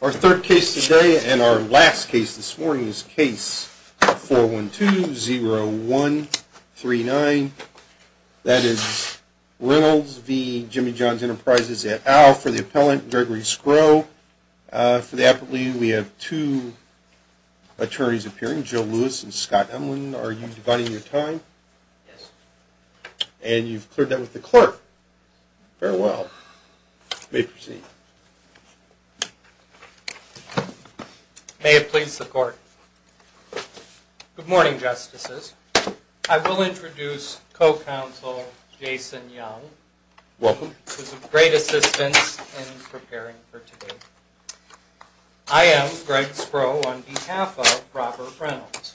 Our third case today and our last case this morning is Case 412-0139. That is Reynolds v. Jimmy John's Enterprises at Al for the appellant, Gregory Skrow. For the appellate, we have two attorneys appearing, Joe Lewis and Scott Emlin. Are you dividing your time? Yes. And you've cleared that with the clerk. Very well. You may proceed. May it please the court. Good morning, Justices. I will introduce co-counsel Jason Young. Welcome. Who's a great assistance in preparing for today. I am Greg Skrow on behalf of Robert Reynolds.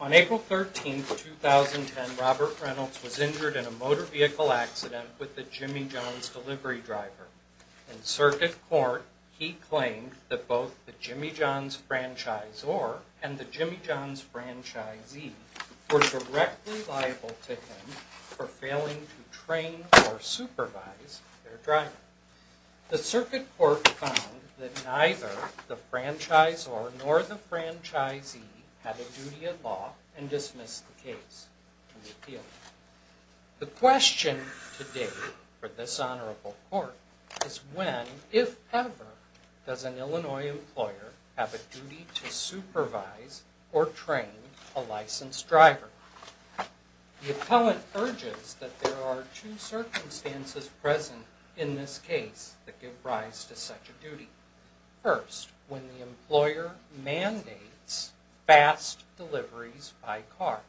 On April 13, 2010, Robert Reynolds was injured in a motor vehicle accident with a Jimmy John's delivery driver. In circuit court, he claimed that both the Jimmy John's franchisor and the Jimmy John's franchisee were directly liable to him for failing to train or supervise their driver. The circuit court found that neither the franchisor nor the franchisee had a duty of law and dismissed the case to the appeal. The question today for this honorable court is when, if ever, does an Illinois employer have a duty to supervise or train a licensed driver? The appellant urges that there are two circumstances present in this case that give rise to such a duty. First, when the employer mandates fast deliveries by car.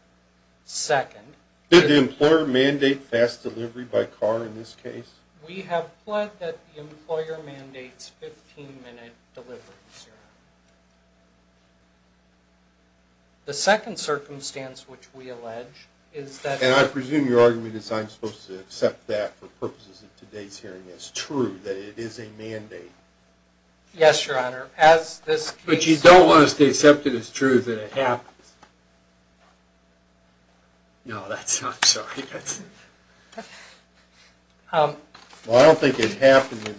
Second, Did the employer mandate fast delivery by car in this case? We have pled that the employer mandates 15 minute delivery. The second circumstance which we allege is that And I presume your argument is I'm supposed to accept that for purposes of today's hearing as true, that it is a mandate. Yes, your honor. As this case But you don't want us to accept it as true that it happens. No, that's not true. Well, I don't think it happened in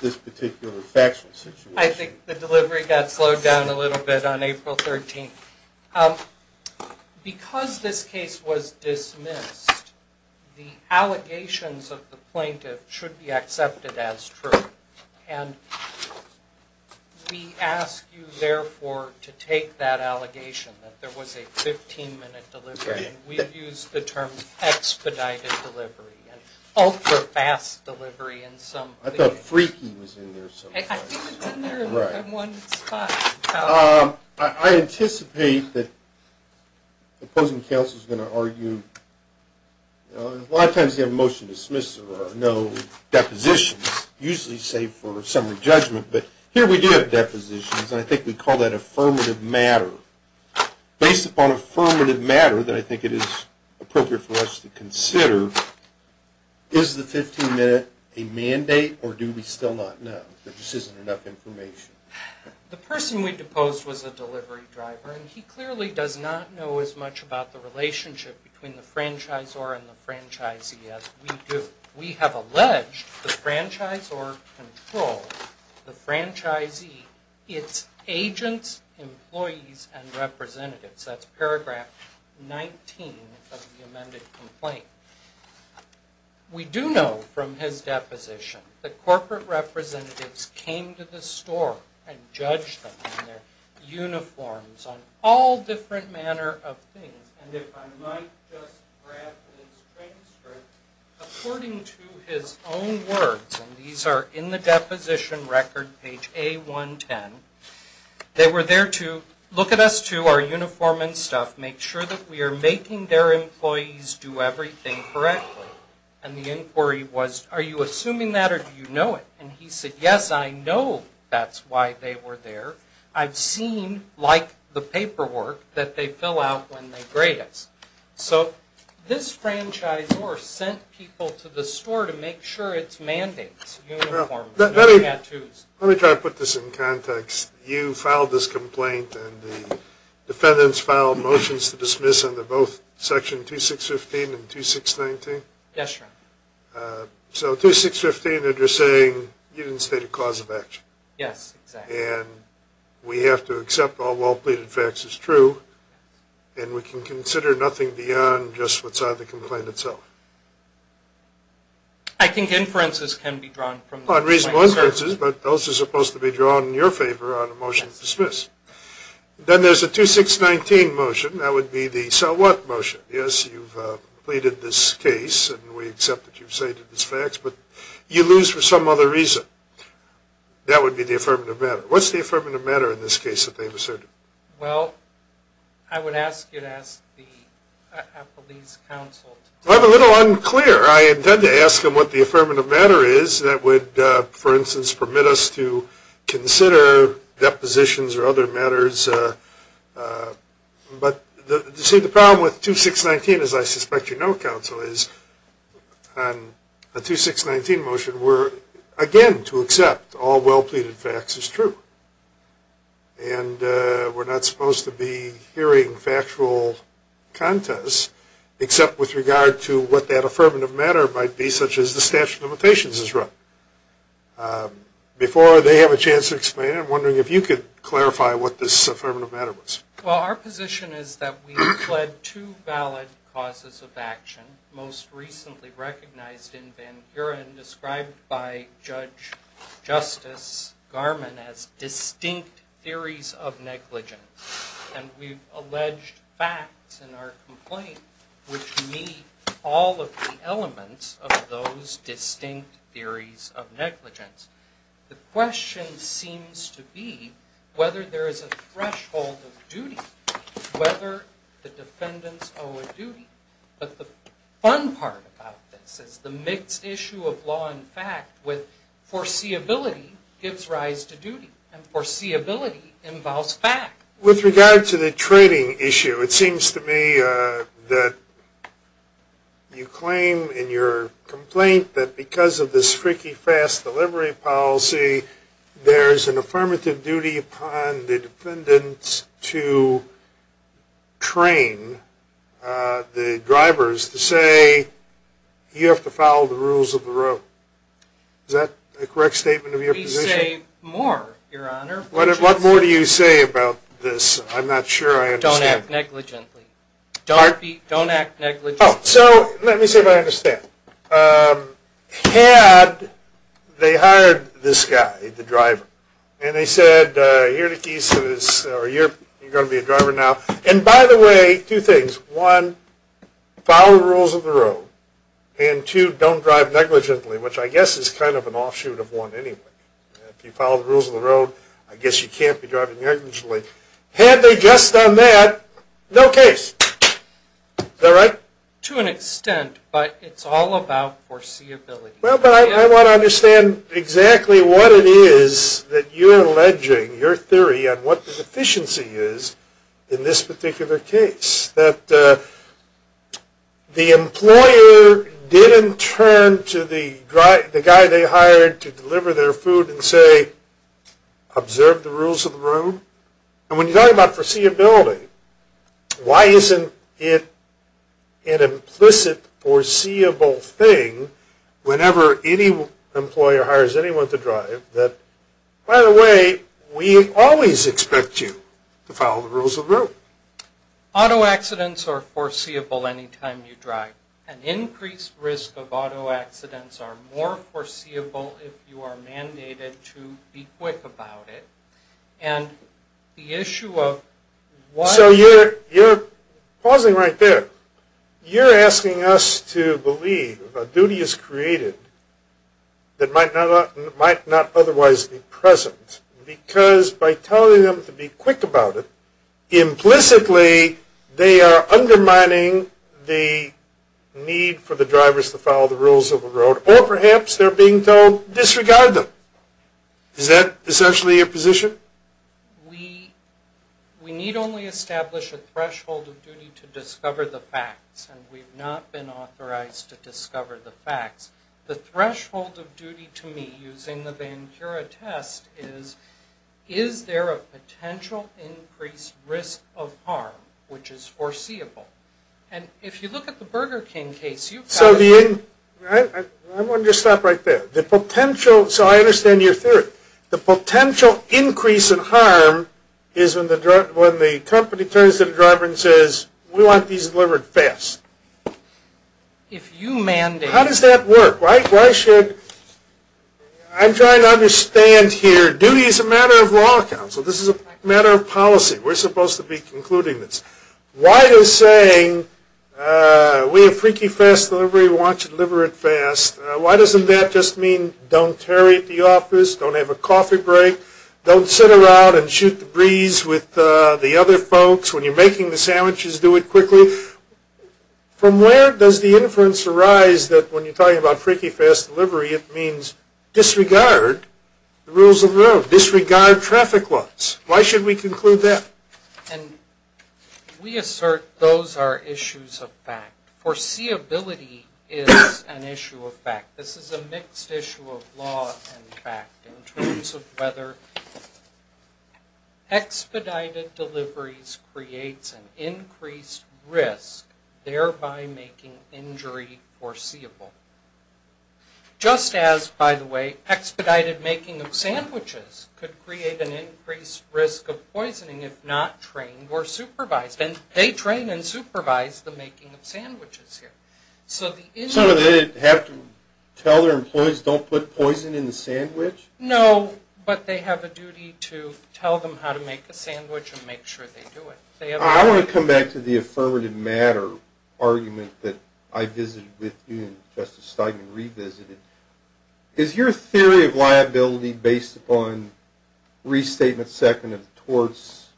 this particular factual situation. I think the delivery got slowed down a little bit on April 13th. Because this case was dismissed, the allegations of the plaintiff should be accepted as true. And we ask you, therefore, to take that allegation that there was a 15 minute delivery. We've used the term expedited delivery and ultra fast delivery in some. I thought freaky was in there somewhere. I think it's in there in one spot. I anticipate that the opposing counsel is going to argue A lot of times you have a motion to dismiss or no depositions, usually save for summary judgment. But here we do have depositions. And I think we call that affirmative matter. Based upon affirmative matter that I think it is appropriate for us to consider, Is the 15 minute a mandate or do we still not know? There just isn't enough information. The person we deposed was a delivery driver. And he clearly does not know as much about the relationship between the franchisor and the franchisee as we do. We have alleged the franchisor controls the franchisee, its agents, employees, and representatives. That's paragraph 19 of the amended complaint. We do know from his deposition that corporate representatives came to the store and judged them in their uniforms on all different manner of things. And if I might just grab the transcript. According to his own words, and these are in the deposition record, page A110. They were there to look at us, too, our uniform and stuff, make sure that we are making their employees do everything correctly. And the inquiry was, are you assuming that or do you know it? And he said, yes, I know that's why they were there. I've seen, like the paperwork, that they fill out when they grade us. So this franchisor sent people to the store to make sure its mandates. Let me try to put this in context. You filed this complaint and the defendants filed motions to dismiss under both section 2615 and 2619? Yes, sir. So 2615 that you're saying you didn't state a cause of action. Yes, exactly. And we have to accept all well pleaded facts as true and we can consider nothing beyond just what's on the complaint itself. I think inferences can be drawn from this. On reasonable inferences, but those are supposed to be drawn in your favor on a motion to dismiss. Then there's a 2619 motion. That would be the so what motion. Yes, you've pleaded this case and we accept that you've stated these facts, but you lose for some other reason. That would be the affirmative matter. What's the affirmative matter in this case that they've asserted? Well, I would ask you to ask a police counsel. I'm a little unclear. I intend to ask them what the affirmative matter is that would, for instance, permit us to consider depositions or other matters. But the problem with 2619, as I suspect you know, counsel, is on a 2619 motion we're, again, to accept all well pleaded facts as true. And we're not supposed to be hearing factual contest, except with regard to what that affirmative matter might be, such as the statute of limitations is wrong. Before they have a chance to explain it, I'm wondering if you could clarify what this affirmative matter was. Well, our position is that we've pled two valid causes of action, most recently recognized in Van Buren, described by Judge Justice Garman as distinct theories of negligence. And we've alleged facts in our complaint which meet all of the elements of those distinct theories of negligence. The question seems to be whether there is a threshold of duty, whether the defendants owe a duty. But the fun part about this is the mixed issue of law and fact with foreseeability gives rise to duty. And foreseeability involves fact. With regard to the trading issue, it seems to me that you claim in your complaint that because of this freaky fast delivery policy, there's an affirmative duty upon the defendants to train the drivers to say you have to follow the rules of the road. Is that a correct statement of your position? We say more, Your Honor. What more do you say about this? I'm not sure I understand. Don't act negligently. Pardon? Don't act negligently. Oh, so let me see if I understand. Had they hired this guy, the driver, and they said you're going to be a driver now. And, by the way, two things. One, follow the rules of the road. And, two, don't drive negligently, which I guess is kind of an offshoot of one anyway. If you follow the rules of the road, I guess you can't be driving negligently. Had they just done that, no case. Is that right? To an extent, but it's all about foreseeability. Well, but I want to understand exactly what it is that you're alleging, your theory on what the deficiency is in this particular case, that the employer didn't turn to the guy they hired to deliver their food and say observe the rules of the road. And when you're talking about foreseeability, why isn't it an implicit foreseeable thing whenever any employer hires anyone to drive that, by the way, we always expect you to follow the rules of the road? Auto accidents are foreseeable any time you drive. An increased risk of auto accidents are more foreseeable if you are mandated to be quick about it. And the issue of why... So you're pausing right there. You're asking us to believe a duty is created that might not otherwise be present because by telling them to be quick about it, implicitly they are undermining the need for the drivers to follow the rules of the road or perhaps they're being told disregard them. Is that essentially your position? We need only establish a threshold of duty to discover the facts, and we've not been authorized to discover the facts. The threshold of duty to me using the Vancura test is, is there a potential increased risk of harm which is foreseeable? And if you look at the Burger King case, you've got... I want to just stop right there. The potential... So I understand your theory. The potential increase in harm is when the company turns to the driver and says, we want these delivered fast. If you mandate... How does that work? Why should... I'm trying to understand here. Duty is a matter of law counsel. This is a matter of policy. We're supposed to be concluding this. Why is saying, we have freaky fast delivery, we want you to deliver it fast, why doesn't that just mean don't hurry at the office, don't have a coffee break, don't sit around and shoot the breeze with the other folks when you're making the sandwiches, do it quickly? From where does the inference arise that when you're talking about freaky fast delivery, it means disregard the rules of the road, disregard traffic laws? Why should we conclude that? We assert those are issues of fact. Foreseeability is an issue of fact. This is a mixed issue of law and fact in terms of whether expedited deliveries creates an increased risk, thereby making injury foreseeable. Just as, by the way, expedited making of sandwiches could create an increased risk of poisoning if not trained or supervised. And they train and supervise the making of sandwiches here. So they have to tell their employees don't put poison in the sandwich? No, but they have a duty to tell them how to make a sandwich and make sure they do it. I want to come back to the affirmative matter argument that I visited with you and Justice Steinman revisited. Is your theory of liability based upon Restatement 2nd and towards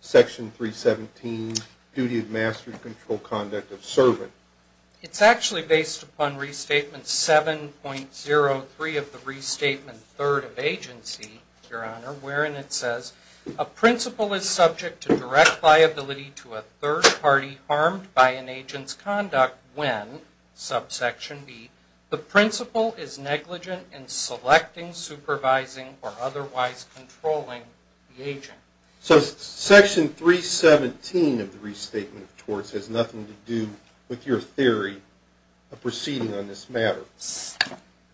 Section 317, Duty of Mastery Control Conduct of Servant? It's actually based upon Restatement 7.03 of the Restatement 3rd of Agency, Your Honor, wherein it says a principal is subject to direct liability to a third party harmed by an agent's conduct when, subsection b, the principal is negligent in selecting, supervising, or otherwise controlling the agent. So Section 317 of the Restatement of Torts has nothing to do with your theory of proceeding on this matter?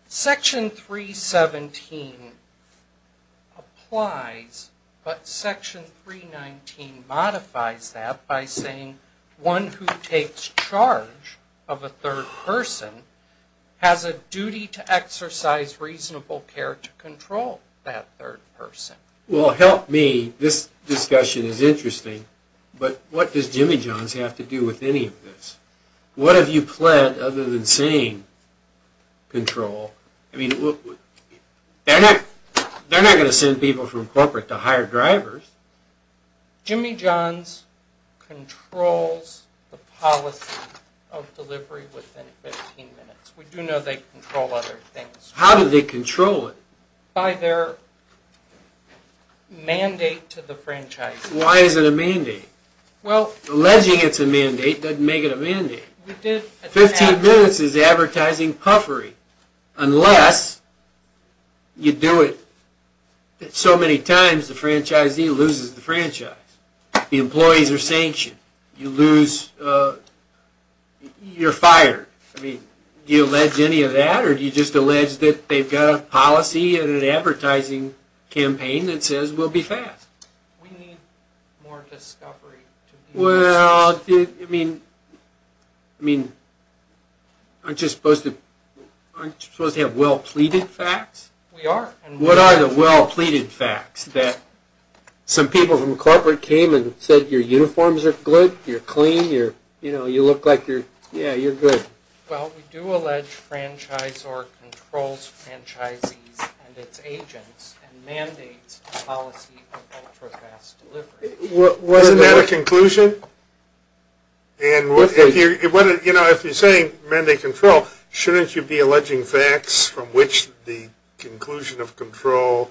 Section 317 applies, but Section 319 modifies that by saying one who takes charge of a third person has a duty to exercise reasonable care to control that third person. Well, help me, this discussion is interesting, but what does Jimmy Jones have to do with any of this? What have you planned other than saying control? I mean, they're not going to send people from corporate to hire drivers. Jimmy Jones controls the policy of delivery within 15 minutes. We do know they control other things. How do they control it? By their mandate to the franchisee. Why is it a mandate? Alleging it's a mandate doesn't make it a mandate. 15 minutes is advertising puffery unless you do it so many times the franchisee loses the franchise. The employees are sanctioned. You lose, you're fired. Do you allege any of that or do you just allege that they've got a policy and an advertising campaign that says we'll be fast? We need more discovery. Well, I mean, aren't you supposed to have well pleaded facts? We are. What are the well pleaded facts that some people from corporate came and said your uniforms are good, you're clean, you look like you're good? Well, we do allege franchise or controls franchisees and its agents and mandates a policy of ultra-fast delivery. Wasn't that a conclusion? And if you're saying mandate control, shouldn't you be alleging facts from which the conclusion of control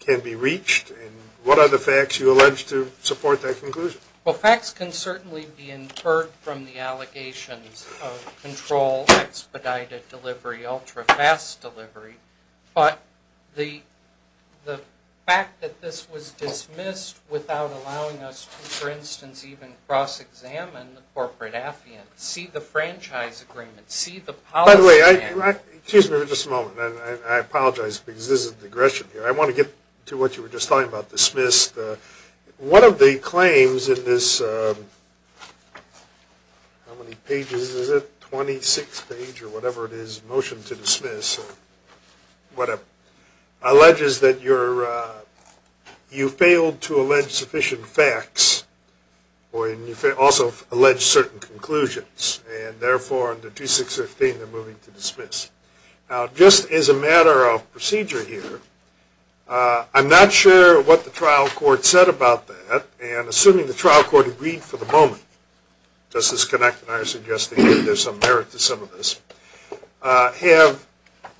can be reached? And what are the facts you allege to support that conclusion? Well, facts can certainly be inferred from the allegations of control, expedited delivery, ultra-fast delivery. But the fact that this was dismissed without allowing us to, for instance, even cross-examine the corporate affiance, see the franchise agreement, see the policy agreement. By the way, excuse me for just a moment. I apologize because this is digression here. I want to get to what you were just talking about, dismiss. One of the claims in this, how many pages is it? 26 page or whatever it is, motion to dismiss or whatever, alleges that you failed to allege sufficient facts or also allege certain conclusions. And therefore, under 2615, they're moving to dismiss. Now, just as a matter of procedure here, I'm not sure what the trial court said about that. And assuming the trial court agreed for the moment, does this connect, and I suggest that there's some merit to some of this.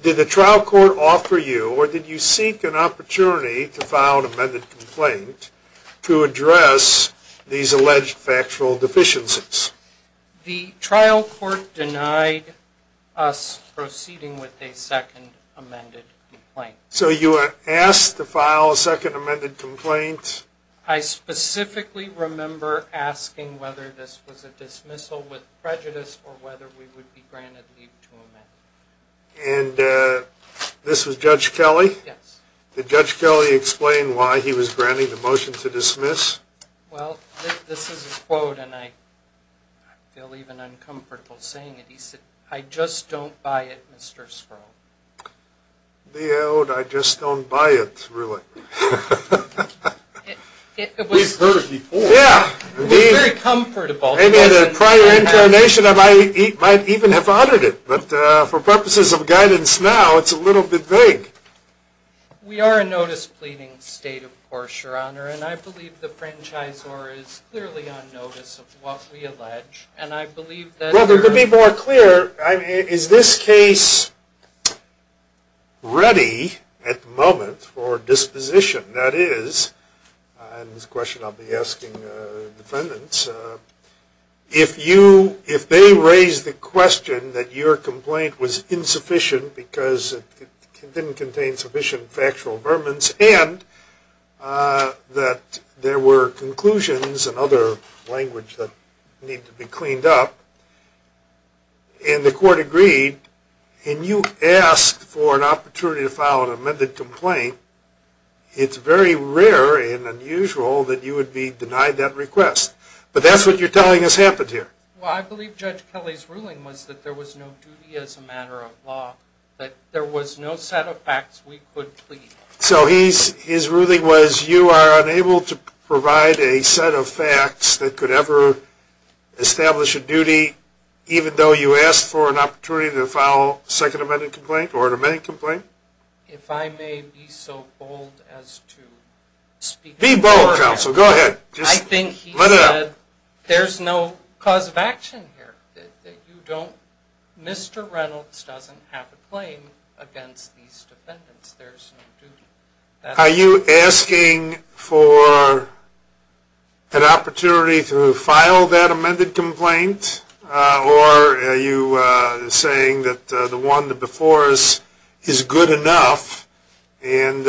Did the trial court offer you or did you seek an opportunity to file an amended complaint to address these alleged factual deficiencies? The trial court denied us proceeding with a second amended complaint. So you were asked to file a second amended complaint? I specifically remember asking whether this was a dismissal with prejudice or whether we would be granted leave to amend. And this was Judge Kelly? Yes. Did Judge Kelly explain why he was granting the motion to dismiss? Well, this is his quote, and I feel even uncomfortable saying it. He said, I just don't buy it, Mr. Sproul. The ode, I just don't buy it, really. We've heard it before. Yeah. It was very comfortable. Maybe in a prior interrogation I might even have uttered it. But for purposes of guidance now, it's a little bit vague. We are a notice pleading state, of course, Your Honor. And I believe the franchisor is clearly on notice of what we allege. And I believe that there are Well, to be more clear, is this case ready at the moment for disposition? That is, and this question I'll be asking defendants, if they raise the question that your complaint was insufficient because it didn't contain sufficient factual vermin, and that there were conclusions and other language that needed to be cleaned up, and the court agreed, and you asked for an opportunity to file an amended complaint, it's very rare and unusual that you would be denied that request. But that's what you're telling us happened here. Well, I believe Judge Kelly's ruling was that there was no duty as a matter of law, that there was no set of facts we could plead. So his ruling was you are unable to provide a set of facts that could ever establish a duty, even though you asked for an opportunity to file a second amended complaint or an amended complaint? If I may be so bold as to speak for him. Be bold, counsel. Go ahead. I think he said there's no cause of action here. You don't, Mr. Reynolds doesn't have a claim against these defendants. There's no duty. Are you asking for an opportunity to file that amended complaint, or are you saying that the one before us is good enough and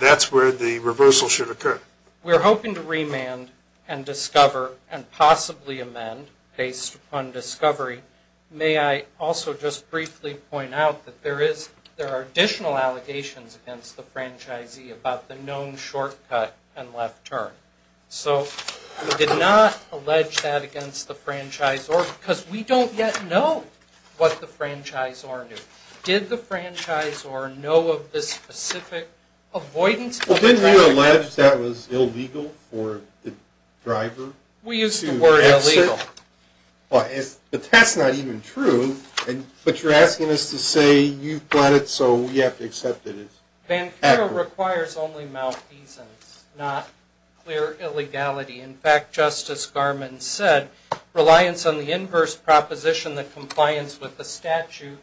that's where the reversal should occur? We're hoping to remand and discover and possibly amend based upon discovery. May I also just briefly point out that there are additional allegations against the franchisee about the known shortcut and left turn. So we did not allege that against the franchisor because we don't yet know what the franchisor knew. Did the franchisor know of the specific avoidance? Well, didn't we allege that was illegal for the driver to exit? We used the word illegal. But that's not even true. But you're asking us to say you've got it so we have to accept it. Vancouver requires only malfeasance, not clear illegality. In fact, Justice Garmon said reliance on the inverse proposition that compliance with the statute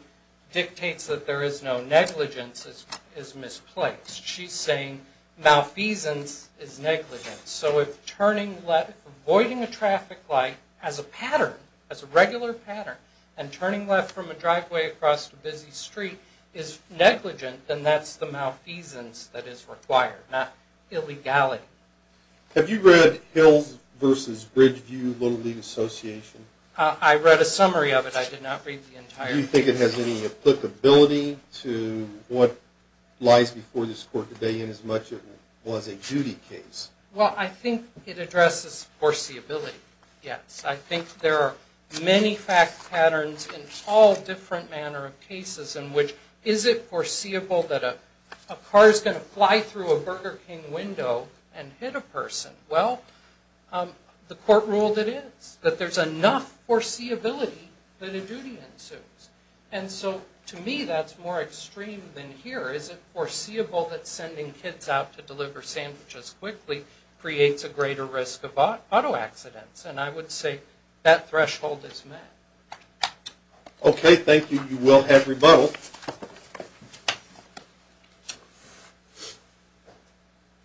dictates that there is no negligence is misplaced. She's saying malfeasance is negligence. So if turning left, avoiding a traffic light as a pattern, as a regular pattern, and turning left from a driveway across a busy street is negligent, then that's the malfeasance that is required, not illegality. Have you read Hills v. Bridgeview Little League Association? I read a summary of it. I did not read the entire case. Do you think it has any applicability to what lies before this court today inasmuch as it was a duty case? Well, I think it addresses foreseeability, yes. I think there are many fact patterns in all different manner of cases in which is it foreseeable that a car is going to fly through a Burger King window and hit a person? Well, the court ruled it is, that there's enough foreseeability that a duty ensues. And so to me that's more extreme than here. Is it foreseeable that sending kids out to deliver sandwiches quickly creates a greater risk of auto accidents? And I would say that threshold is met. Okay, thank you. You will have rebuttal.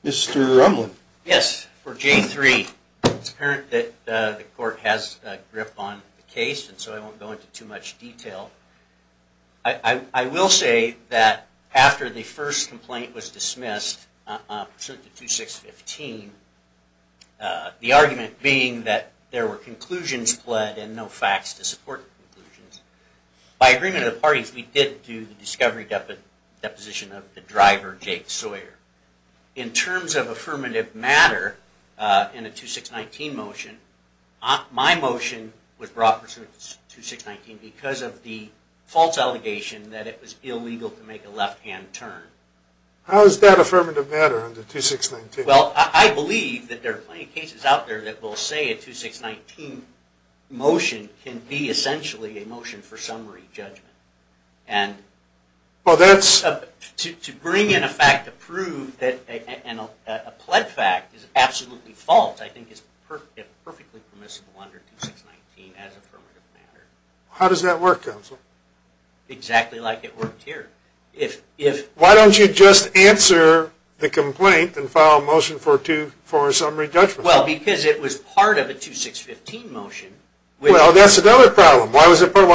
Mr. Rumlin. Yes, for J3, it's apparent that the court has a grip on the case, and so I won't go into too much detail. I will say that after the first complaint was dismissed, pursuant to 2615, the argument being that there were conclusions pled and no facts to support conclusions, by agreement of the parties, we did do the discovery deposition of the driver, Jake Sawyer. In terms of affirmative matter in a 2619 motion, my motion was brought pursuant to 2619 because of the false allegation that it was illegal to make a left-hand turn. How is that affirmative matter under 2619? Well, I believe that there are plenty of cases out there that will say a 2619 motion can be essentially a motion for summary judgment. And to bring in a fact to prove that a pled fact is absolutely false I think is perfectly permissible under 2619 as affirmative matter. How does that work, counsel? Exactly like it worked here. Why don't you just answer the complaint and file a motion for a summary judgment? Well, because it was part of a 2615 motion. Well, that's another problem. Why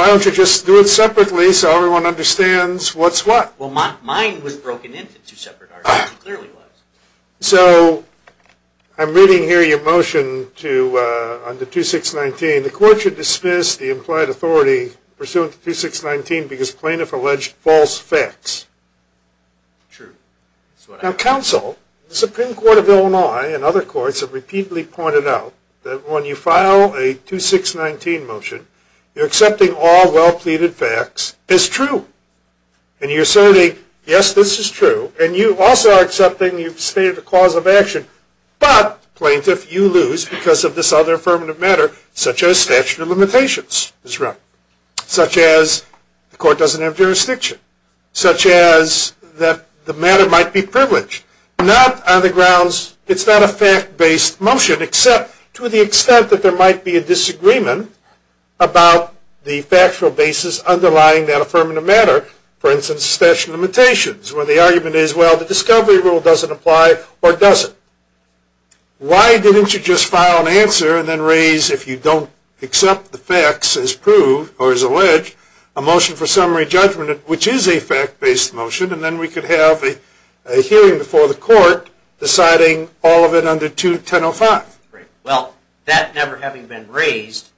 don't you just do it separately so everyone understands what's what? Well, mine was broken into two separate arguments. It clearly was. So, I'm reading here your motion under 2619. The court should dismiss the implied authority pursuant to 2619 because plaintiff alleged false facts. True. Now, counsel, the Supreme Court of Illinois and other courts have repeatedly pointed out that when you file a 2619 motion, you're accepting all well-pleaded facts as true. And you're saying, yes, this is true. And you also are accepting you've stated a cause of action. But, plaintiff, you lose because of this other affirmative matter, such as statute of limitations. Such as the court doesn't have jurisdiction. Such as that the matter might be privileged. Not on the grounds it's not a fact-based motion, except to the extent that there might be a disagreement about the factual basis underlying that affirmative matter, for instance, statute of limitations, where the argument is, well, the discovery rule doesn't apply or doesn't. Why didn't you just file an answer and then raise, if you don't accept the facts as proved or as alleged, a motion for summary judgment, which is a fact-based motion, and then we could have a hearing before the court deciding all of it under 2105? Well, that never having been raised,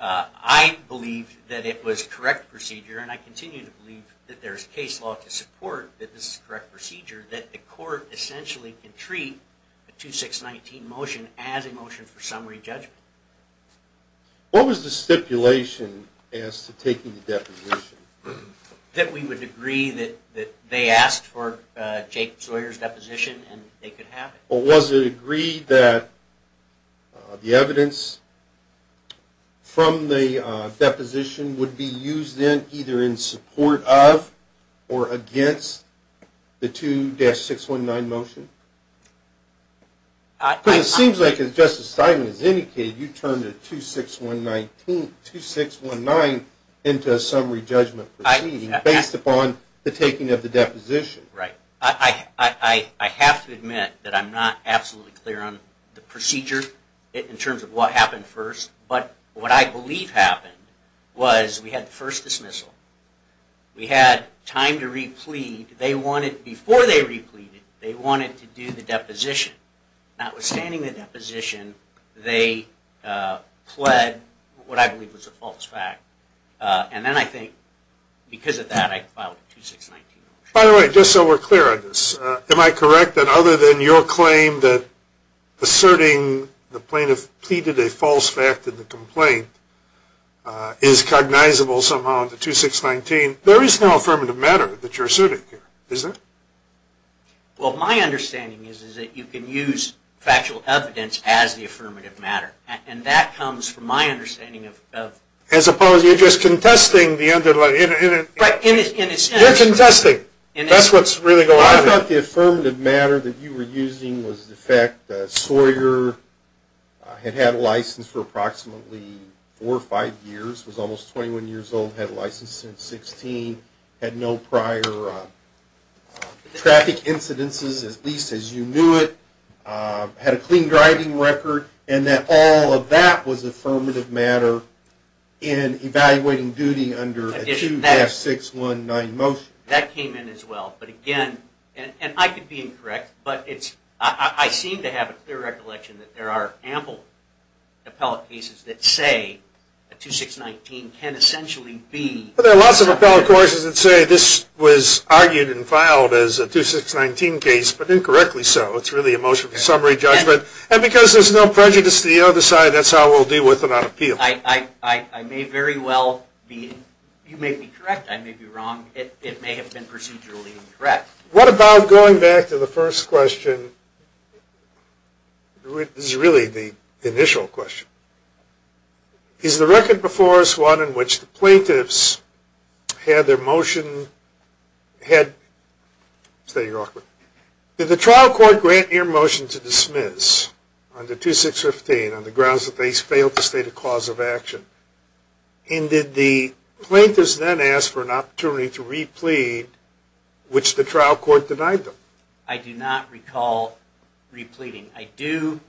I believe that it was correct procedure, and I continue to believe that there's case law to support that this is a correct procedure, that the court essentially can treat the 2619 motion as a motion for summary judgment. What was the stipulation as to taking the deposition? That we would agree that they asked for Jake Sawyer's deposition and they could have it. Well, was it agreed that the evidence from the deposition would be used then either in support of or against the 2-619 motion? Because it seems like, as Justice Steinman has indicated, you turned the 2619 into a summary judgment proceeding based upon the taking of the deposition. Right. I have to admit that I'm not absolutely clear on the procedure in terms of what happened first, but what I believe happened was we had the first dismissal. We had time to re-plead. Before they re-pleaded, they wanted to do the deposition. Notwithstanding the deposition, they pled what I believe was a false fact, and then I think because of that I filed a 2619 motion. By the way, just so we're clear on this, am I correct that other than your claim that asserting the plaintiff pleaded a false fact in the complaint is cognizable somehow in the 2619? There is no affirmative matter that you're asserting here, is there? Well, my understanding is that you can use factual evidence as the affirmative matter, and that comes from my understanding of... As opposed to you just contesting the underlying... Right. You're contesting. That's what's really going on here. I thought the affirmative matter that you were using was the fact that Sawyer had had a license for approximately four or five years, was almost 21 years old, had a license since 16, had no prior traffic incidences, at least as you knew it, had a clean driving record, and that all of that was affirmative matter in evaluating duty under a 2619 motion. That came in as well, but again, and I could be incorrect, but I seem to have a clear recollection that there are ample appellate cases that say a 2619 can essentially be... Well, there are lots of appellate courses that say this was argued and filed as a 2619 case, but incorrectly so. It's really a motion for summary judgment. And because there's no prejudice to the other side, that's how we'll deal with it on appeal. I may very well be... I may have been procedurally incorrect. What about going back to the first question, which is really the initial question. Is the record before us one in which the plaintiffs had their motion... Did the trial court grant your motion to dismiss under 2615 on the grounds that they failed to state a cause of action? And did the plaintiffs then ask for an opportunity to re-plead, which the trial court denied them? I do not recall re-pleading. I do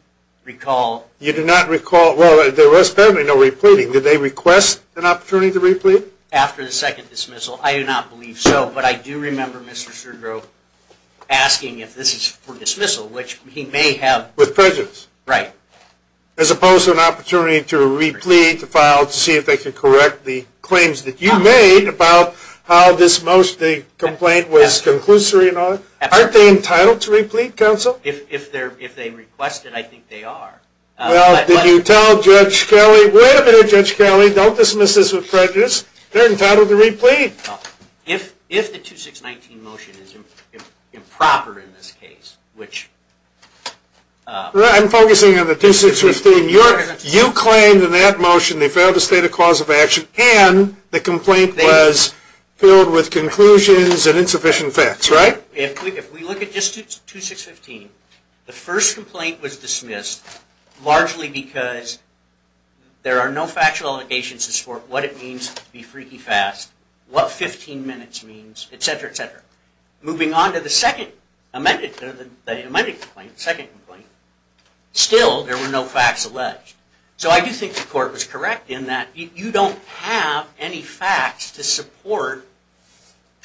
recall... You do not recall... Well, there was apparently no re-pleading. Did they request an opportunity to re-plead? After the second dismissal. I do not believe so, but I do remember Mr. Sergio asking if this is for dismissal, which he may have... With prejudice. Right. As opposed to an opportunity to re-plead, to file, to see if they can correct the claims that you made about how this motion, the complaint, was conclusory and all that? Aren't they entitled to re-plead, counsel? If they requested, I think they are. Well, did you tell Judge Kelly, wait a minute, Judge Kelly, don't dismiss this with prejudice. They're entitled to re-plead. If the 2619 motion is improper in this case, which... I'm focusing on the 2615. You claimed in that motion they failed to state a cause of action and the complaint was filled with conclusions and insufficient facts, right? If we look at just 2615, the first complaint was dismissed largely because there are no factual allegations to support what it means to be freaky fast, what 15 minutes means, etc., etc. Moving on to the second, the amended complaint, the second complaint, still there were no facts alleged. So I do think the court was correct in that you don't have any facts to support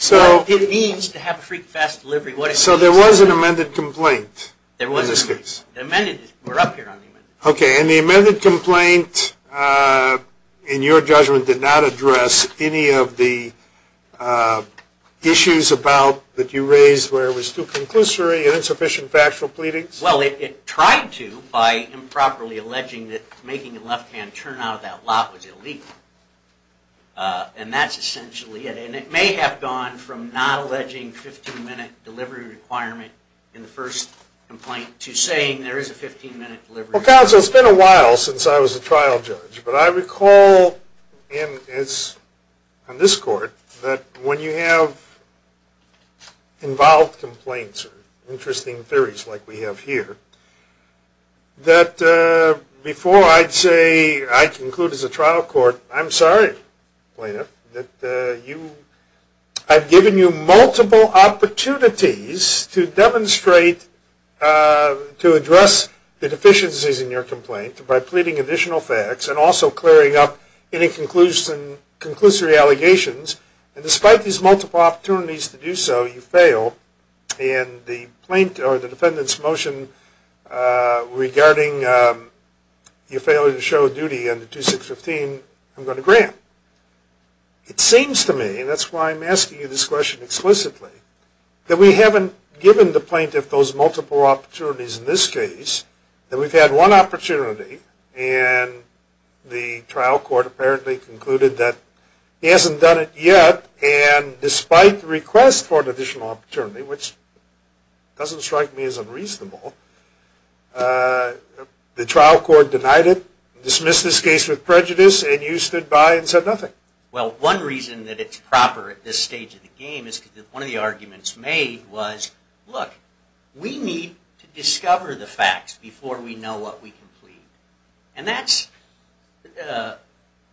what it means to have a freaky fast delivery. So there was an amended complaint in this case? There wasn't. We're up here on the amended. Okay, and the amended complaint, in your judgment, did not address any of the issues that you raised where it was too conclusory and insufficient factual pleadings? Well, it tried to by improperly alleging that making a left-hand turn out of that lot was illegal. And that's essentially it. And it may have gone from not alleging 15-minute delivery requirement in the first complaint to saying there is a 15-minute delivery requirement. Well, counsel, it's been a while since I was a trial judge. But I recall in this court that when you have involved complaints or interesting theories like we have here, that before I'd say I conclude as a trial court, I'm sorry, plaintiff, that I've given you multiple opportunities to demonstrate to address the deficiencies in your complaint by pleading additional facts and also clearing up any conclusory allegations. And despite these multiple opportunities to do so, you fail. And the plaintiff or the defendant's motion regarding your failure to show duty under 2615, I'm going to grant. It seems to me, and that's why I'm asking you this question explicitly, that we haven't given the plaintiff those multiple opportunities in this case, that we've had one opportunity, and the trial court apparently concluded that he hasn't done it yet. And despite the request for an additional opportunity, which doesn't strike me as unreasonable, the trial court denied it, dismissed this case with prejudice, and you stood by and said nothing. Well, one reason that it's proper at this stage of the game is because one of the arguments made was, look, we need to discover the facts before we know what we can plead. And that's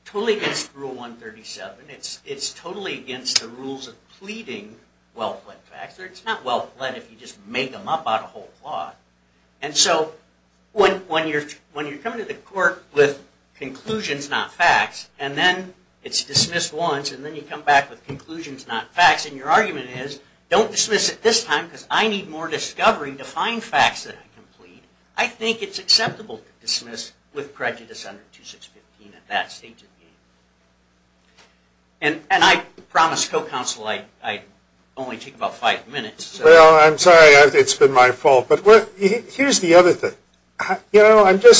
totally against Rule 137. It's totally against the rules of pleading wealth-led facts. It's not wealth-led if you just make them up out of whole cloth. And so when you're coming to the court with conclusions, not facts, and then it's dismissed once, and then you come back with conclusions, not facts, and your argument is, don't dismiss it this time because I need more discovery to find facts that I can plead, I think it's acceptable to dismiss with prejudice under 2615 at that stage of the game. And I promised co-counsel I'd only take about five minutes. Well, I'm sorry. It's been my fault. But here's the other thing. You know,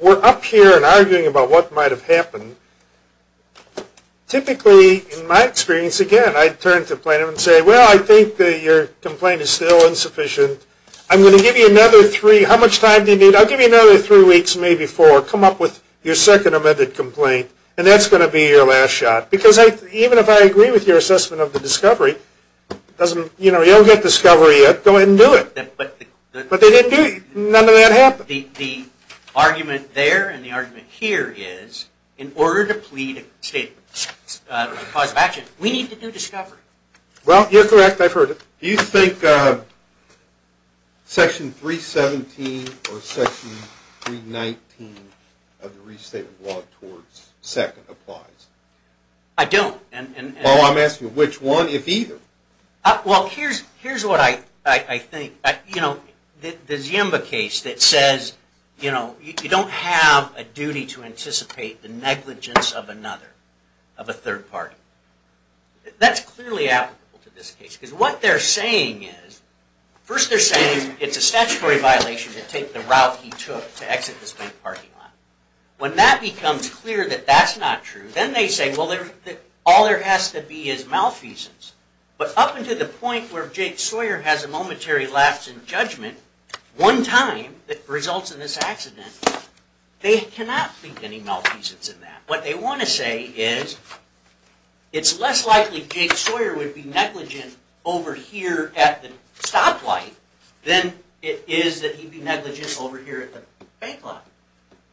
we're up here and arguing about what might have happened. Typically, in my experience, again, I'd turn to a plaintiff and say, well, I think your complaint is still insufficient. I'm going to give you another three. How much time do you need? I'll give you another three weeks, maybe four. Come up with your second amended complaint. And that's going to be your last shot. Because even if I agree with your assessment of the discovery, you don't get discovery yet. Go ahead and do it. But they didn't do it. None of that happened. The argument there and the argument here is, in order to plead a cause of action, we need to do discovery. Well, you're correct. I've heard it. Do you think Section 317 or Section 319 of the Restatement Law towards second applies? I don't. Well, I'm asking which one, if either. Well, here's what I think. You know, the Ziemba case that says, you know, you don't have a duty to anticipate the negligence of another, of a third party. That's clearly applicable to this case. Because what they're saying is, first they're saying it's a statutory violation to take the route he took to exit the state parking lot. When that becomes clear that that's not true, then they say, well, all there has to be is malfeasance. But up until the point where Jake Sawyer has a momentary lapse in judgment, one time, that results in this accident, they cannot plead any malfeasance in that. What they want to say is, it's less likely Jake Sawyer would be negligent over here at the stoplight than it is that he'd be negligent over here at the bank lot.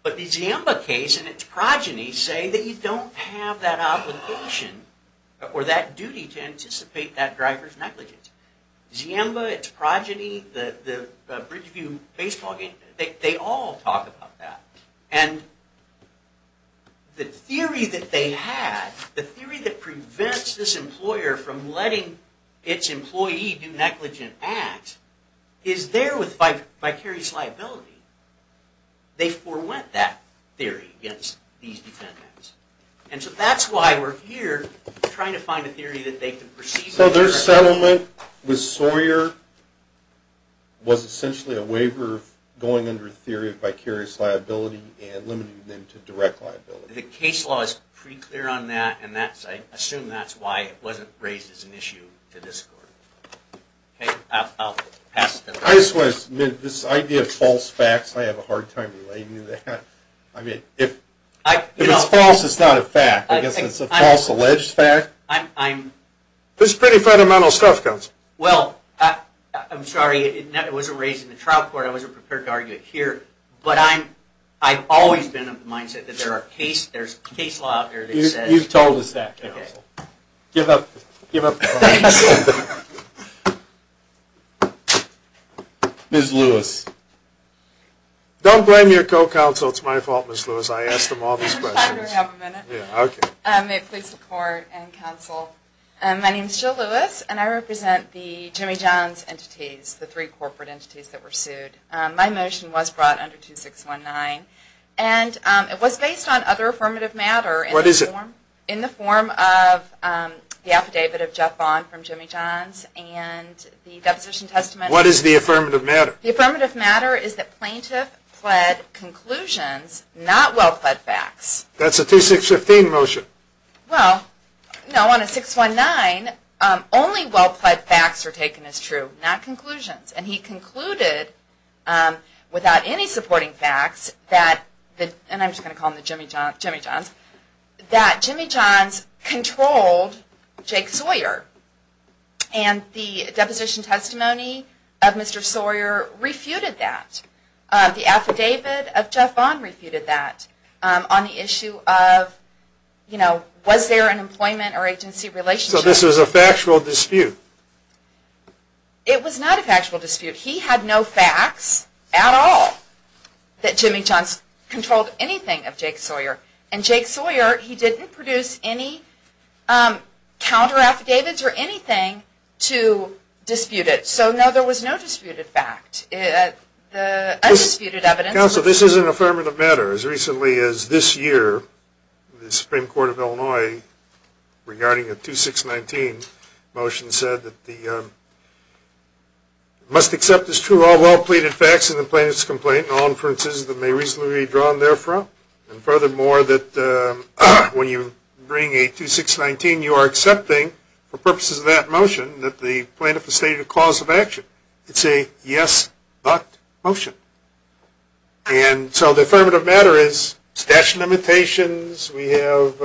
But the Ziemba case and its progeny say that you don't have that obligation or that duty to anticipate that driver's negligence. Ziemba, its progeny, the Bridgeview Baseball game, they all talk about that. And the theory that they have, the theory that prevents this employer from letting its employee do negligent acts, is there with vicarious liability. They forewent that theory against these defendants. And so that's why we're here, trying to find a theory that they can proceed with. So their settlement with Sawyer was essentially a waiver going under the theory of vicarious liability and limiting them to direct liability. The case law is pretty clear on that, and I assume that's why it wasn't raised as an issue to this court. I just want to admit, this idea of false facts, I have a hard time relating to that. I mean, if it's false, it's not a fact. I guess it's a false alleged fact. This is pretty fundamental stuff, counsel. Well, I'm sorry, it wasn't raised in the trial court. I wasn't prepared to argue it here. But I've always been of the mindset that there are cases, there's case law out there that says... You've told us that, counsel. Give up. Ms. Lewis. Don't blame your co-counsel. It's my fault, Ms. Lewis. I asked them all these questions. May it please the court and counsel. My name is Jill Lewis, and I represent the Jimmy Johns entities, the three corporate entities that were sued. My motion was brought under 2619, and it was based on other affirmative matter. What is it? In the form of the affidavit of Jeff Bond from Jimmy Johns and the Deposition Testament. What is the affirmative matter? The affirmative matter is that plaintiff pled conclusions, not well-pled facts. That's a 2615 motion. Well, no, on a 619, only well-pled facts are taken as true, not conclusions. And he concluded, without any supporting facts, that... And I'm just going to call him the Jimmy Johns. That Jimmy Johns controlled Jake Sawyer. And the Deposition Testimony of Mr. Sawyer refuted that. The affidavit of Jeff Bond refuted that on the issue of, you know, was there an employment or agency relationship? So this was a factual dispute? It was not a factual dispute. He had no facts at all that Jimmy Johns controlled anything of Jake Sawyer. And Jake Sawyer, he didn't produce any counter-affidavits or anything to dispute it. So, no, there was no disputed fact. The undisputed evidence... Counsel, this is an affirmative matter. As recently as this year, the Supreme Court of Illinois, regarding a 2619 motion, said that it must accept as true all well-pleaded facts in the plaintiff's complaint and all inferences that may reasonably be drawn therefrom. And furthermore, that when you bring a 2619, you are accepting, for purposes of that motion, that the plaintiff has stated a cause of action. It's a yes, but motion. And so the affirmative matter is statute of limitations, we have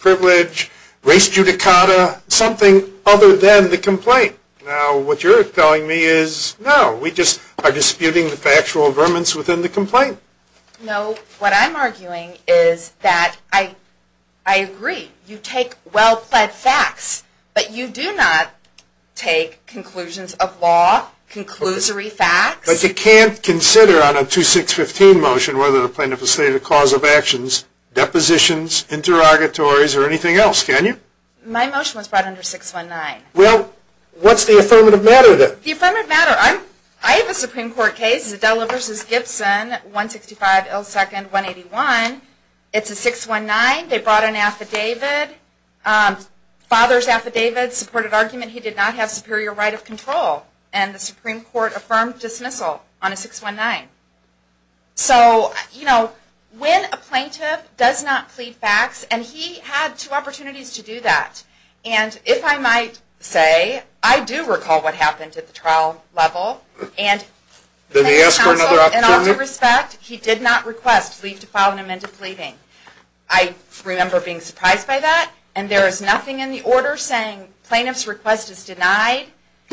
privilege, grace judicata, something other than the complaint. Now, what you're telling me is, no, we just are disputing the factual vermins within the complaint. No, what I'm arguing is that I agree. You take well-plead facts, but you do not take conclusions of law, conclusory facts. But you can't consider on a 2615 motion whether the plaintiff has stated a cause of actions, depositions, interrogatories, or anything else, can you? My motion was brought under 619. Well, what's the affirmative matter then? The affirmative matter, I have a Supreme Court case, Zadella v. Gibson, 165 L. 2nd, 181. It's a 619. They brought an affidavit, father's affidavit, supported argument, he did not have superior right of control. And the Supreme Court affirmed dismissal on a 619. So, you know, when a plaintiff does not plead facts, and he had two opportunities to do that. And if I might say, I do recall what happened at the trial level. And the plaintiff's counsel, in all due respect, he did not request leave to file an amendment to pleading. I remember being surprised by that. And there is nothing in the order saying plaintiff's request is denied.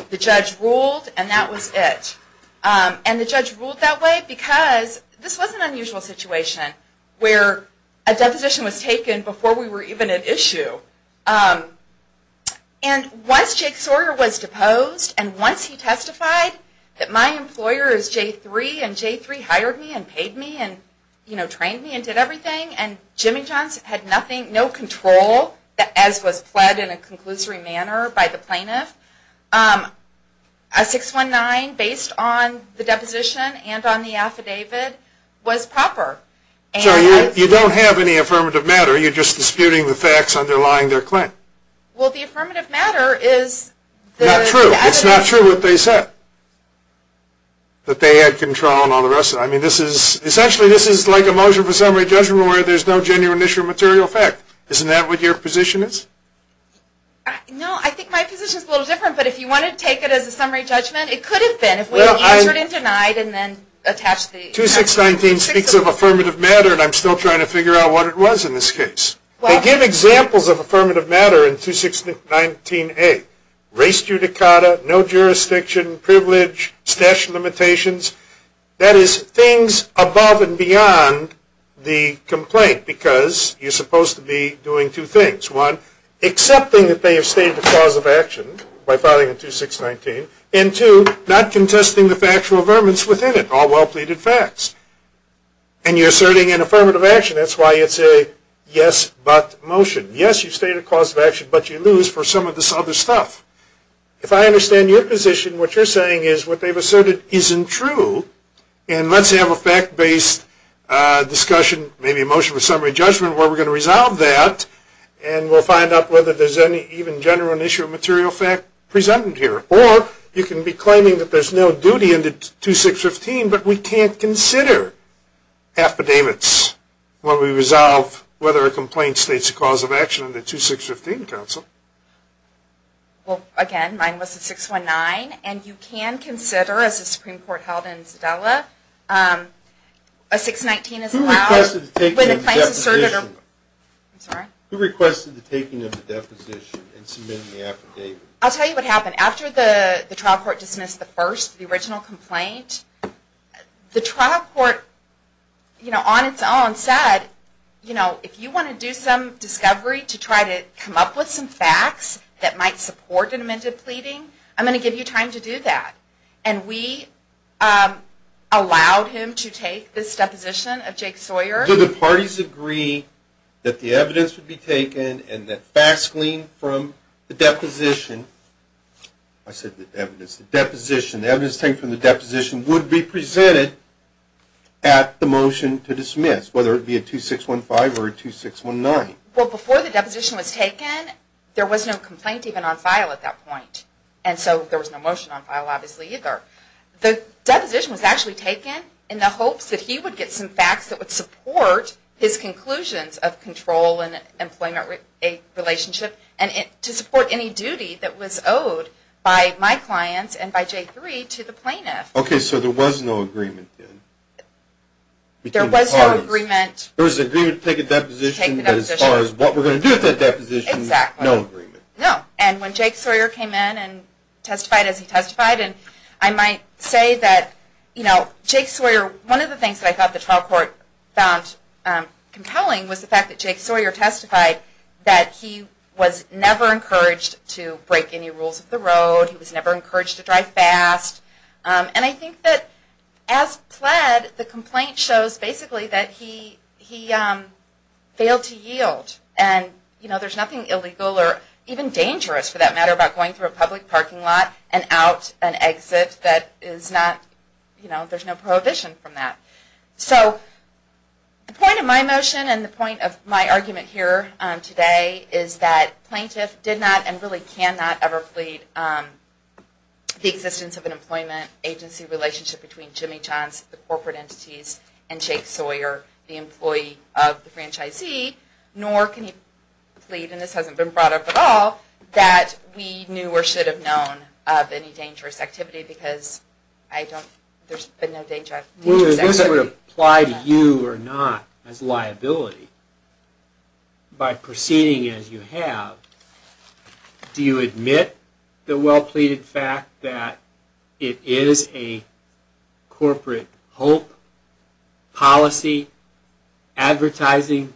The judge ruled, and that was it. And the judge ruled that way because this was an unusual situation where a deposition was taken before we were even at issue. And once Jake Sawyer was deposed, and once he testified that my employer is J3, and J3 hired me and paid me and trained me and did everything, and Jimmy Johnson had nothing, no control, as was pled in a conclusory manner by the plaintiff, a 619 based on the deposition and on the affidavit was proper. So you don't have any affirmative matter. Are you just disputing the facts underlying their claim? Well, the affirmative matter is the affidavit. It's not true what they said, that they had control and all the rest of it. I mean, essentially this is like a motion for summary judgment where there's no genuine issue of material fact. Isn't that what your position is? No, I think my position is a little different. But if you want to take it as a summary judgment, it could have been. If we answered in denied and then attached the affidavit. The 2619 speaks of affirmative matter, and I'm still trying to figure out what it was in this case. They give examples of affirmative matter in 2619A, race judicata, no jurisdiction, privilege, stash limitations. That is, things above and beyond the complaint because you're supposed to be doing two things. One, accepting that they have stated the cause of action by filing a 2619, and two, not contesting the factual affirmance within it, all well-pleaded facts. And you're asserting an affirmative action. That's why you'd say, yes, but motion. Yes, you state a cause of action, but you lose for some of this other stuff. If I understand your position, what you're saying is what they've asserted isn't true, and let's have a fact-based discussion, maybe a motion for summary judgment, where we're going to resolve that, and we'll find out whether there's any even general issue of material fact presented here. Or you can be claiming that there's no duty under 2615, but we can't consider affidavits when we resolve whether a complaint states a cause of action under 2615, Counsel. Well, again, mine was a 619, and you can consider, as the Supreme Court held in Sedala, a 619 is allowed. Who requested the taking of the deposition and submitting the affidavit? I'll tell you what happened. After the trial court dismissed the first, the original complaint, the trial court, on its own, said, if you want to do some discovery to try to come up with some facts that might support an amended pleading, I'm going to give you time to do that. And we allowed him to take this deposition of Jake Sawyer. Do the parties agree that the evidence would be taken and that facts gleaned from the deposition, I said the evidence, the deposition, the evidence taken from the deposition would be presented at the motion to dismiss, whether it be a 2615 or a 2619? Well, before the deposition was taken, there was no complaint even on file at that point. And so there was no motion on file, obviously, either. The deposition was actually taken in the hopes that he would get some facts that would support his conclusions of control and employment relationship and to support any duty that was owed by my clients and by J3 to the plaintiff. Okay, so there was no agreement then? There was no agreement. There was an agreement to take a deposition, but as far as what we're going to do with that deposition, no agreement. No, and when Jake Sawyer came in and testified as he testified, and I might say that, you know, Jake Sawyer, one of the things that I thought the trial court found compelling was the fact that Jake Sawyer testified that he was never encouraged to break any rules of the road. He was never encouraged to drive fast. And I think that as pled, the complaint shows basically that he failed to yield. And, you know, there's nothing illegal or even dangerous, for that matter, about going through a public parking lot and out an exit that is not, you know, there's no prohibition from that. So the point of my motion and the point of my argument here today is that plaintiff did not and really cannot ever plead the existence of an employment agency relationship between Jimmy Johns, the corporate entities, and Jake Sawyer, the employee of the franchisee, nor can he plead, and this hasn't been brought up at all, that we knew or should have known of any dangerous activity because I don't, there's been no danger of dangerous activity. Well, if this were to apply to you or not as liability, by proceeding as you have, do you admit the well-pleaded fact that it is a corporate hope, policy, advertising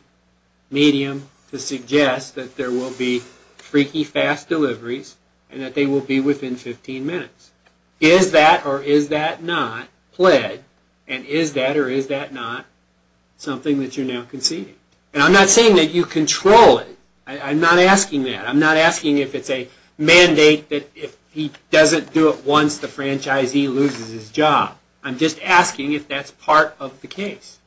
medium to suggest that there will be freaky fast deliveries and that they will be within 15 minutes? Is that or is that not pled, and is that or is that not something that you're now conceding? And I'm not saying that you control it. I'm not asking that. I'm not asking if it's a mandate that if he doesn't do it once, the franchisee loses his job. I'm just asking if that's part of the case.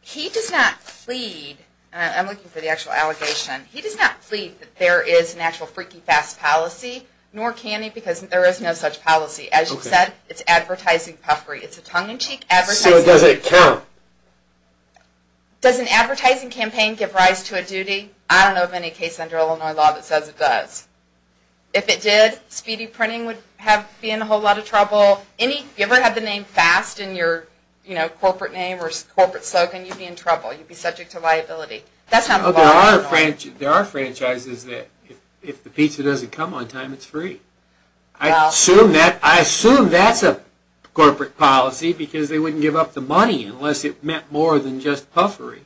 He does not plead, and I'm looking for the actual allegation, he does not plead that there is an actual freaky fast policy, nor can he because there is no such policy. As you said, it's advertising puffery. So does it count? Does an advertising campaign give rise to a duty? I don't know of any case under Illinois law that says it does. If it did, speedy printing would be in a whole lot of trouble. If you ever had the name fast in your corporate name or corporate slogan, you'd be in trouble. You'd be subject to liability. There are franchises that if the pizza doesn't come on time, it's free. I assume that's a corporate policy because they wouldn't give up the money unless it meant more than just puffery.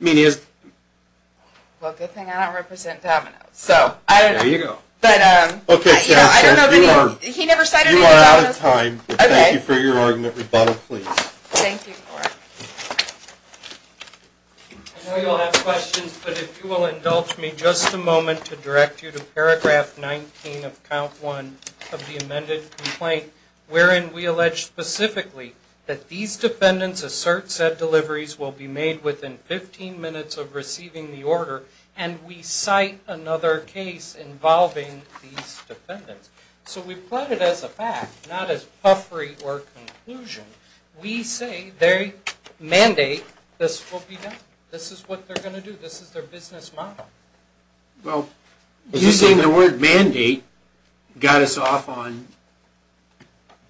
Well, good thing I don't represent Domino's. There you go. You are out of time. Thank you for your argument. Rebuttal, please. Thank you. I know you'll have questions, but if you will indulge me just a moment to direct you to paragraph 19 of count 1 of the amended complaint, wherein we allege specifically that these defendants assert said deliveries will be made within 15 minutes of receiving the order, and we cite another case involving these defendants. So we plot it as a fact, not as puffery or conclusion. We say they mandate this will be done. This is what they're going to do. This is their business model. Well, you're saying the word mandate got us off on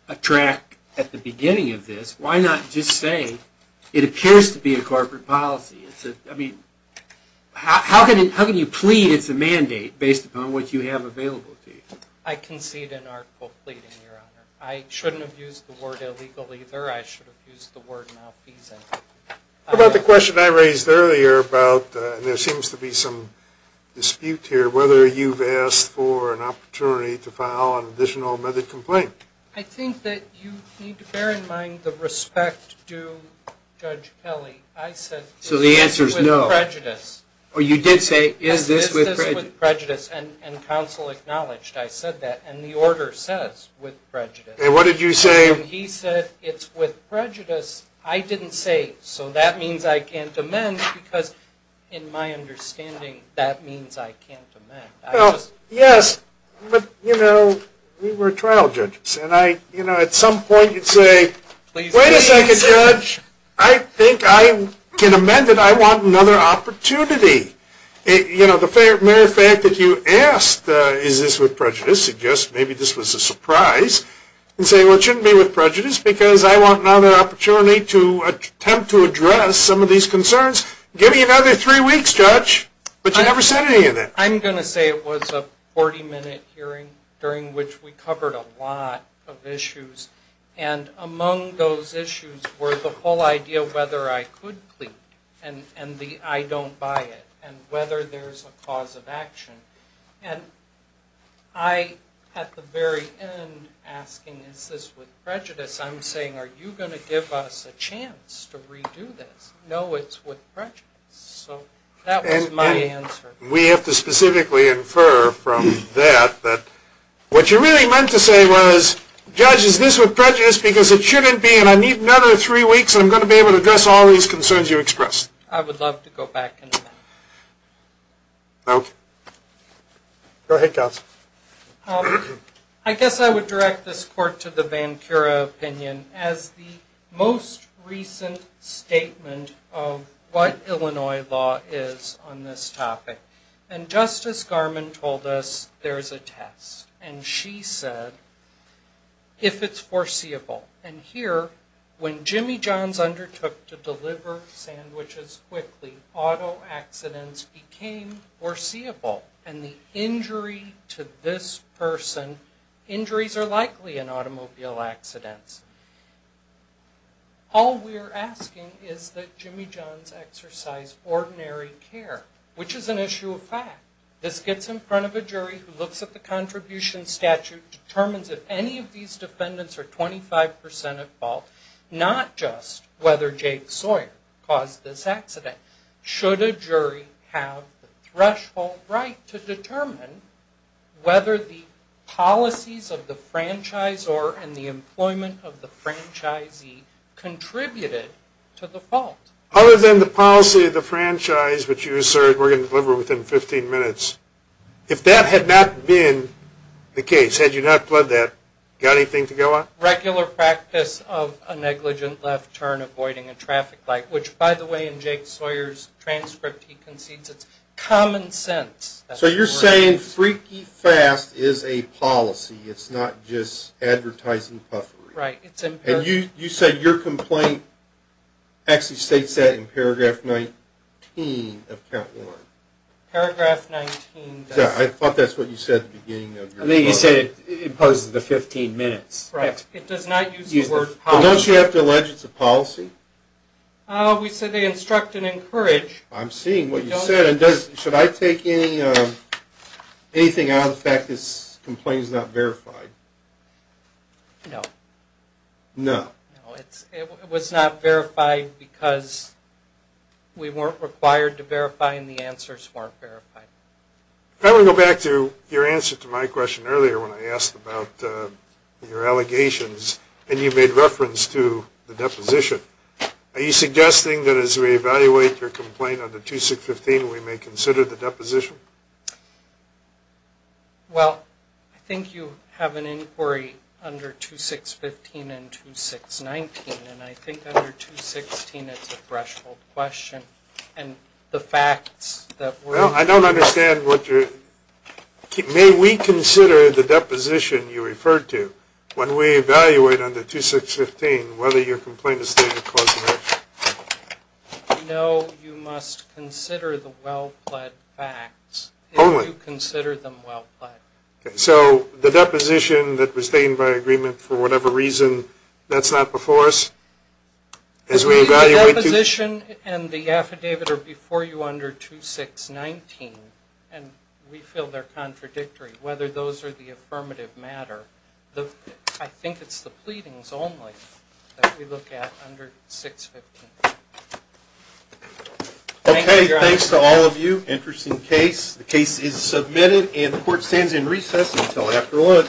a track at the beginning of this. Why not just say it appears to be a corporate policy? I mean, how can you plead it's a mandate based upon what you have available to you? I concede an article pleading, Your Honor. I shouldn't have used the word illegal either. I should have used the word malfeasant. What about the question I raised earlier about, and there seems to be some dispute here, whether you've asked for an opportunity to file an additional amended complaint? I think that you need to bear in mind the respect due Judge Kelly. I said is this with prejudice? So the answer is no. Oh, you did say is this with prejudice? Is this with prejudice? And counsel acknowledged I said that. And the order says with prejudice. And what did you say? He said it's with prejudice. I didn't say so that means I can't amend because in my understanding that means I can't amend. Well, yes, but, you know, we were trial judges. And I, you know, at some point you'd say, wait a second, Judge. I think I can amend it. I want another opportunity. You know, the mere fact that you asked is this with prejudice suggests maybe this was a surprise. And say, well, it shouldn't be with prejudice because I want another opportunity to attempt to address some of these concerns. Give me another three weeks, Judge. But you never said any of that. I'm going to say it was a 40-minute hearing during which we covered a lot of issues. And among those issues were the whole idea of whether I could plead and the I don't buy it. And whether there's a cause of action. And I, at the very end, asking is this with prejudice, I'm saying are you going to give us a chance to redo this? No, it's with prejudice. So that was my answer. We have to specifically infer from that that what you really meant to say was, Judge, is this with prejudice because it shouldn't be and I need another three weeks and I'm going to be able to address all these concerns you expressed. I would love to go back into that. Okay. Go ahead, Counsel. I guess I would direct this court to the Vancura opinion as the most recent statement of what Illinois law is on this topic. And Justice Garmon told us there's a test. And she said if it's foreseeable. And here, when Jimmy Johns undertook to deliver sandwiches quickly, auto accidents became foreseeable. And the injury to this person, injuries are likely in automobile accidents. All we're asking is that Jimmy Johns exercise ordinary care. Which is an issue of fact. This gets in front of a jury who looks at the contribution statute, determines if any of these defendants are 25% at fault. Not just whether Jake Sawyer caused this accident. Should a jury have the threshold right to determine whether the policies of the franchisor and the employment of the franchisee contributed to the fault? Other than the policy of the franchise, which you assert we're going to deliver within 15 minutes. If that had not been the case, had you not pled that, got anything to go on? Regular practice of a negligent left turn avoiding a traffic light. Which, by the way, in Jake Sawyer's transcript he concedes it's common sense. So you're saying freaky fast is a policy. It's not just advertising puffery. Right. You said your complaint actually states that in paragraph 19 of count one. Paragraph 19. I thought that's what you said at the beginning. I think you said it imposes the 15 minutes. Right. It does not use the word policy. Don't you have to allege it's a policy? We said they instruct and encourage. I'm seeing what you said. Should I take anything out of the fact that this complaint is not verified? No. No. No, it was not verified because we weren't required to verify and the answers weren't verified. I want to go back to your answer to my question earlier when I asked about your allegations and you made reference to the deposition. Are you suggesting that as we evaluate your complaint under 2615 we may consider the deposition? Well, I think you have an inquiry under 2615 and 2619, and I think under 2615 it's a threshold question. And the facts that we're... Well, I don't understand what you're... May we consider the deposition you referred to when we evaluate under 2615 whether your complaint is stated cause and effect? No, you must consider the well-pled facts. Only? If you consider them well-pled. Okay, so the deposition that was stained by agreement for whatever reason, that's not before us? The deposition and the affidavit are before you under 2619, and we feel they're contradictory whether those are the affirmative matter. I think it's the pleadings only that we look at under 615. Okay, thanks to all of you. Interesting case. The case is submitted, and the court stands in recess until after lunch.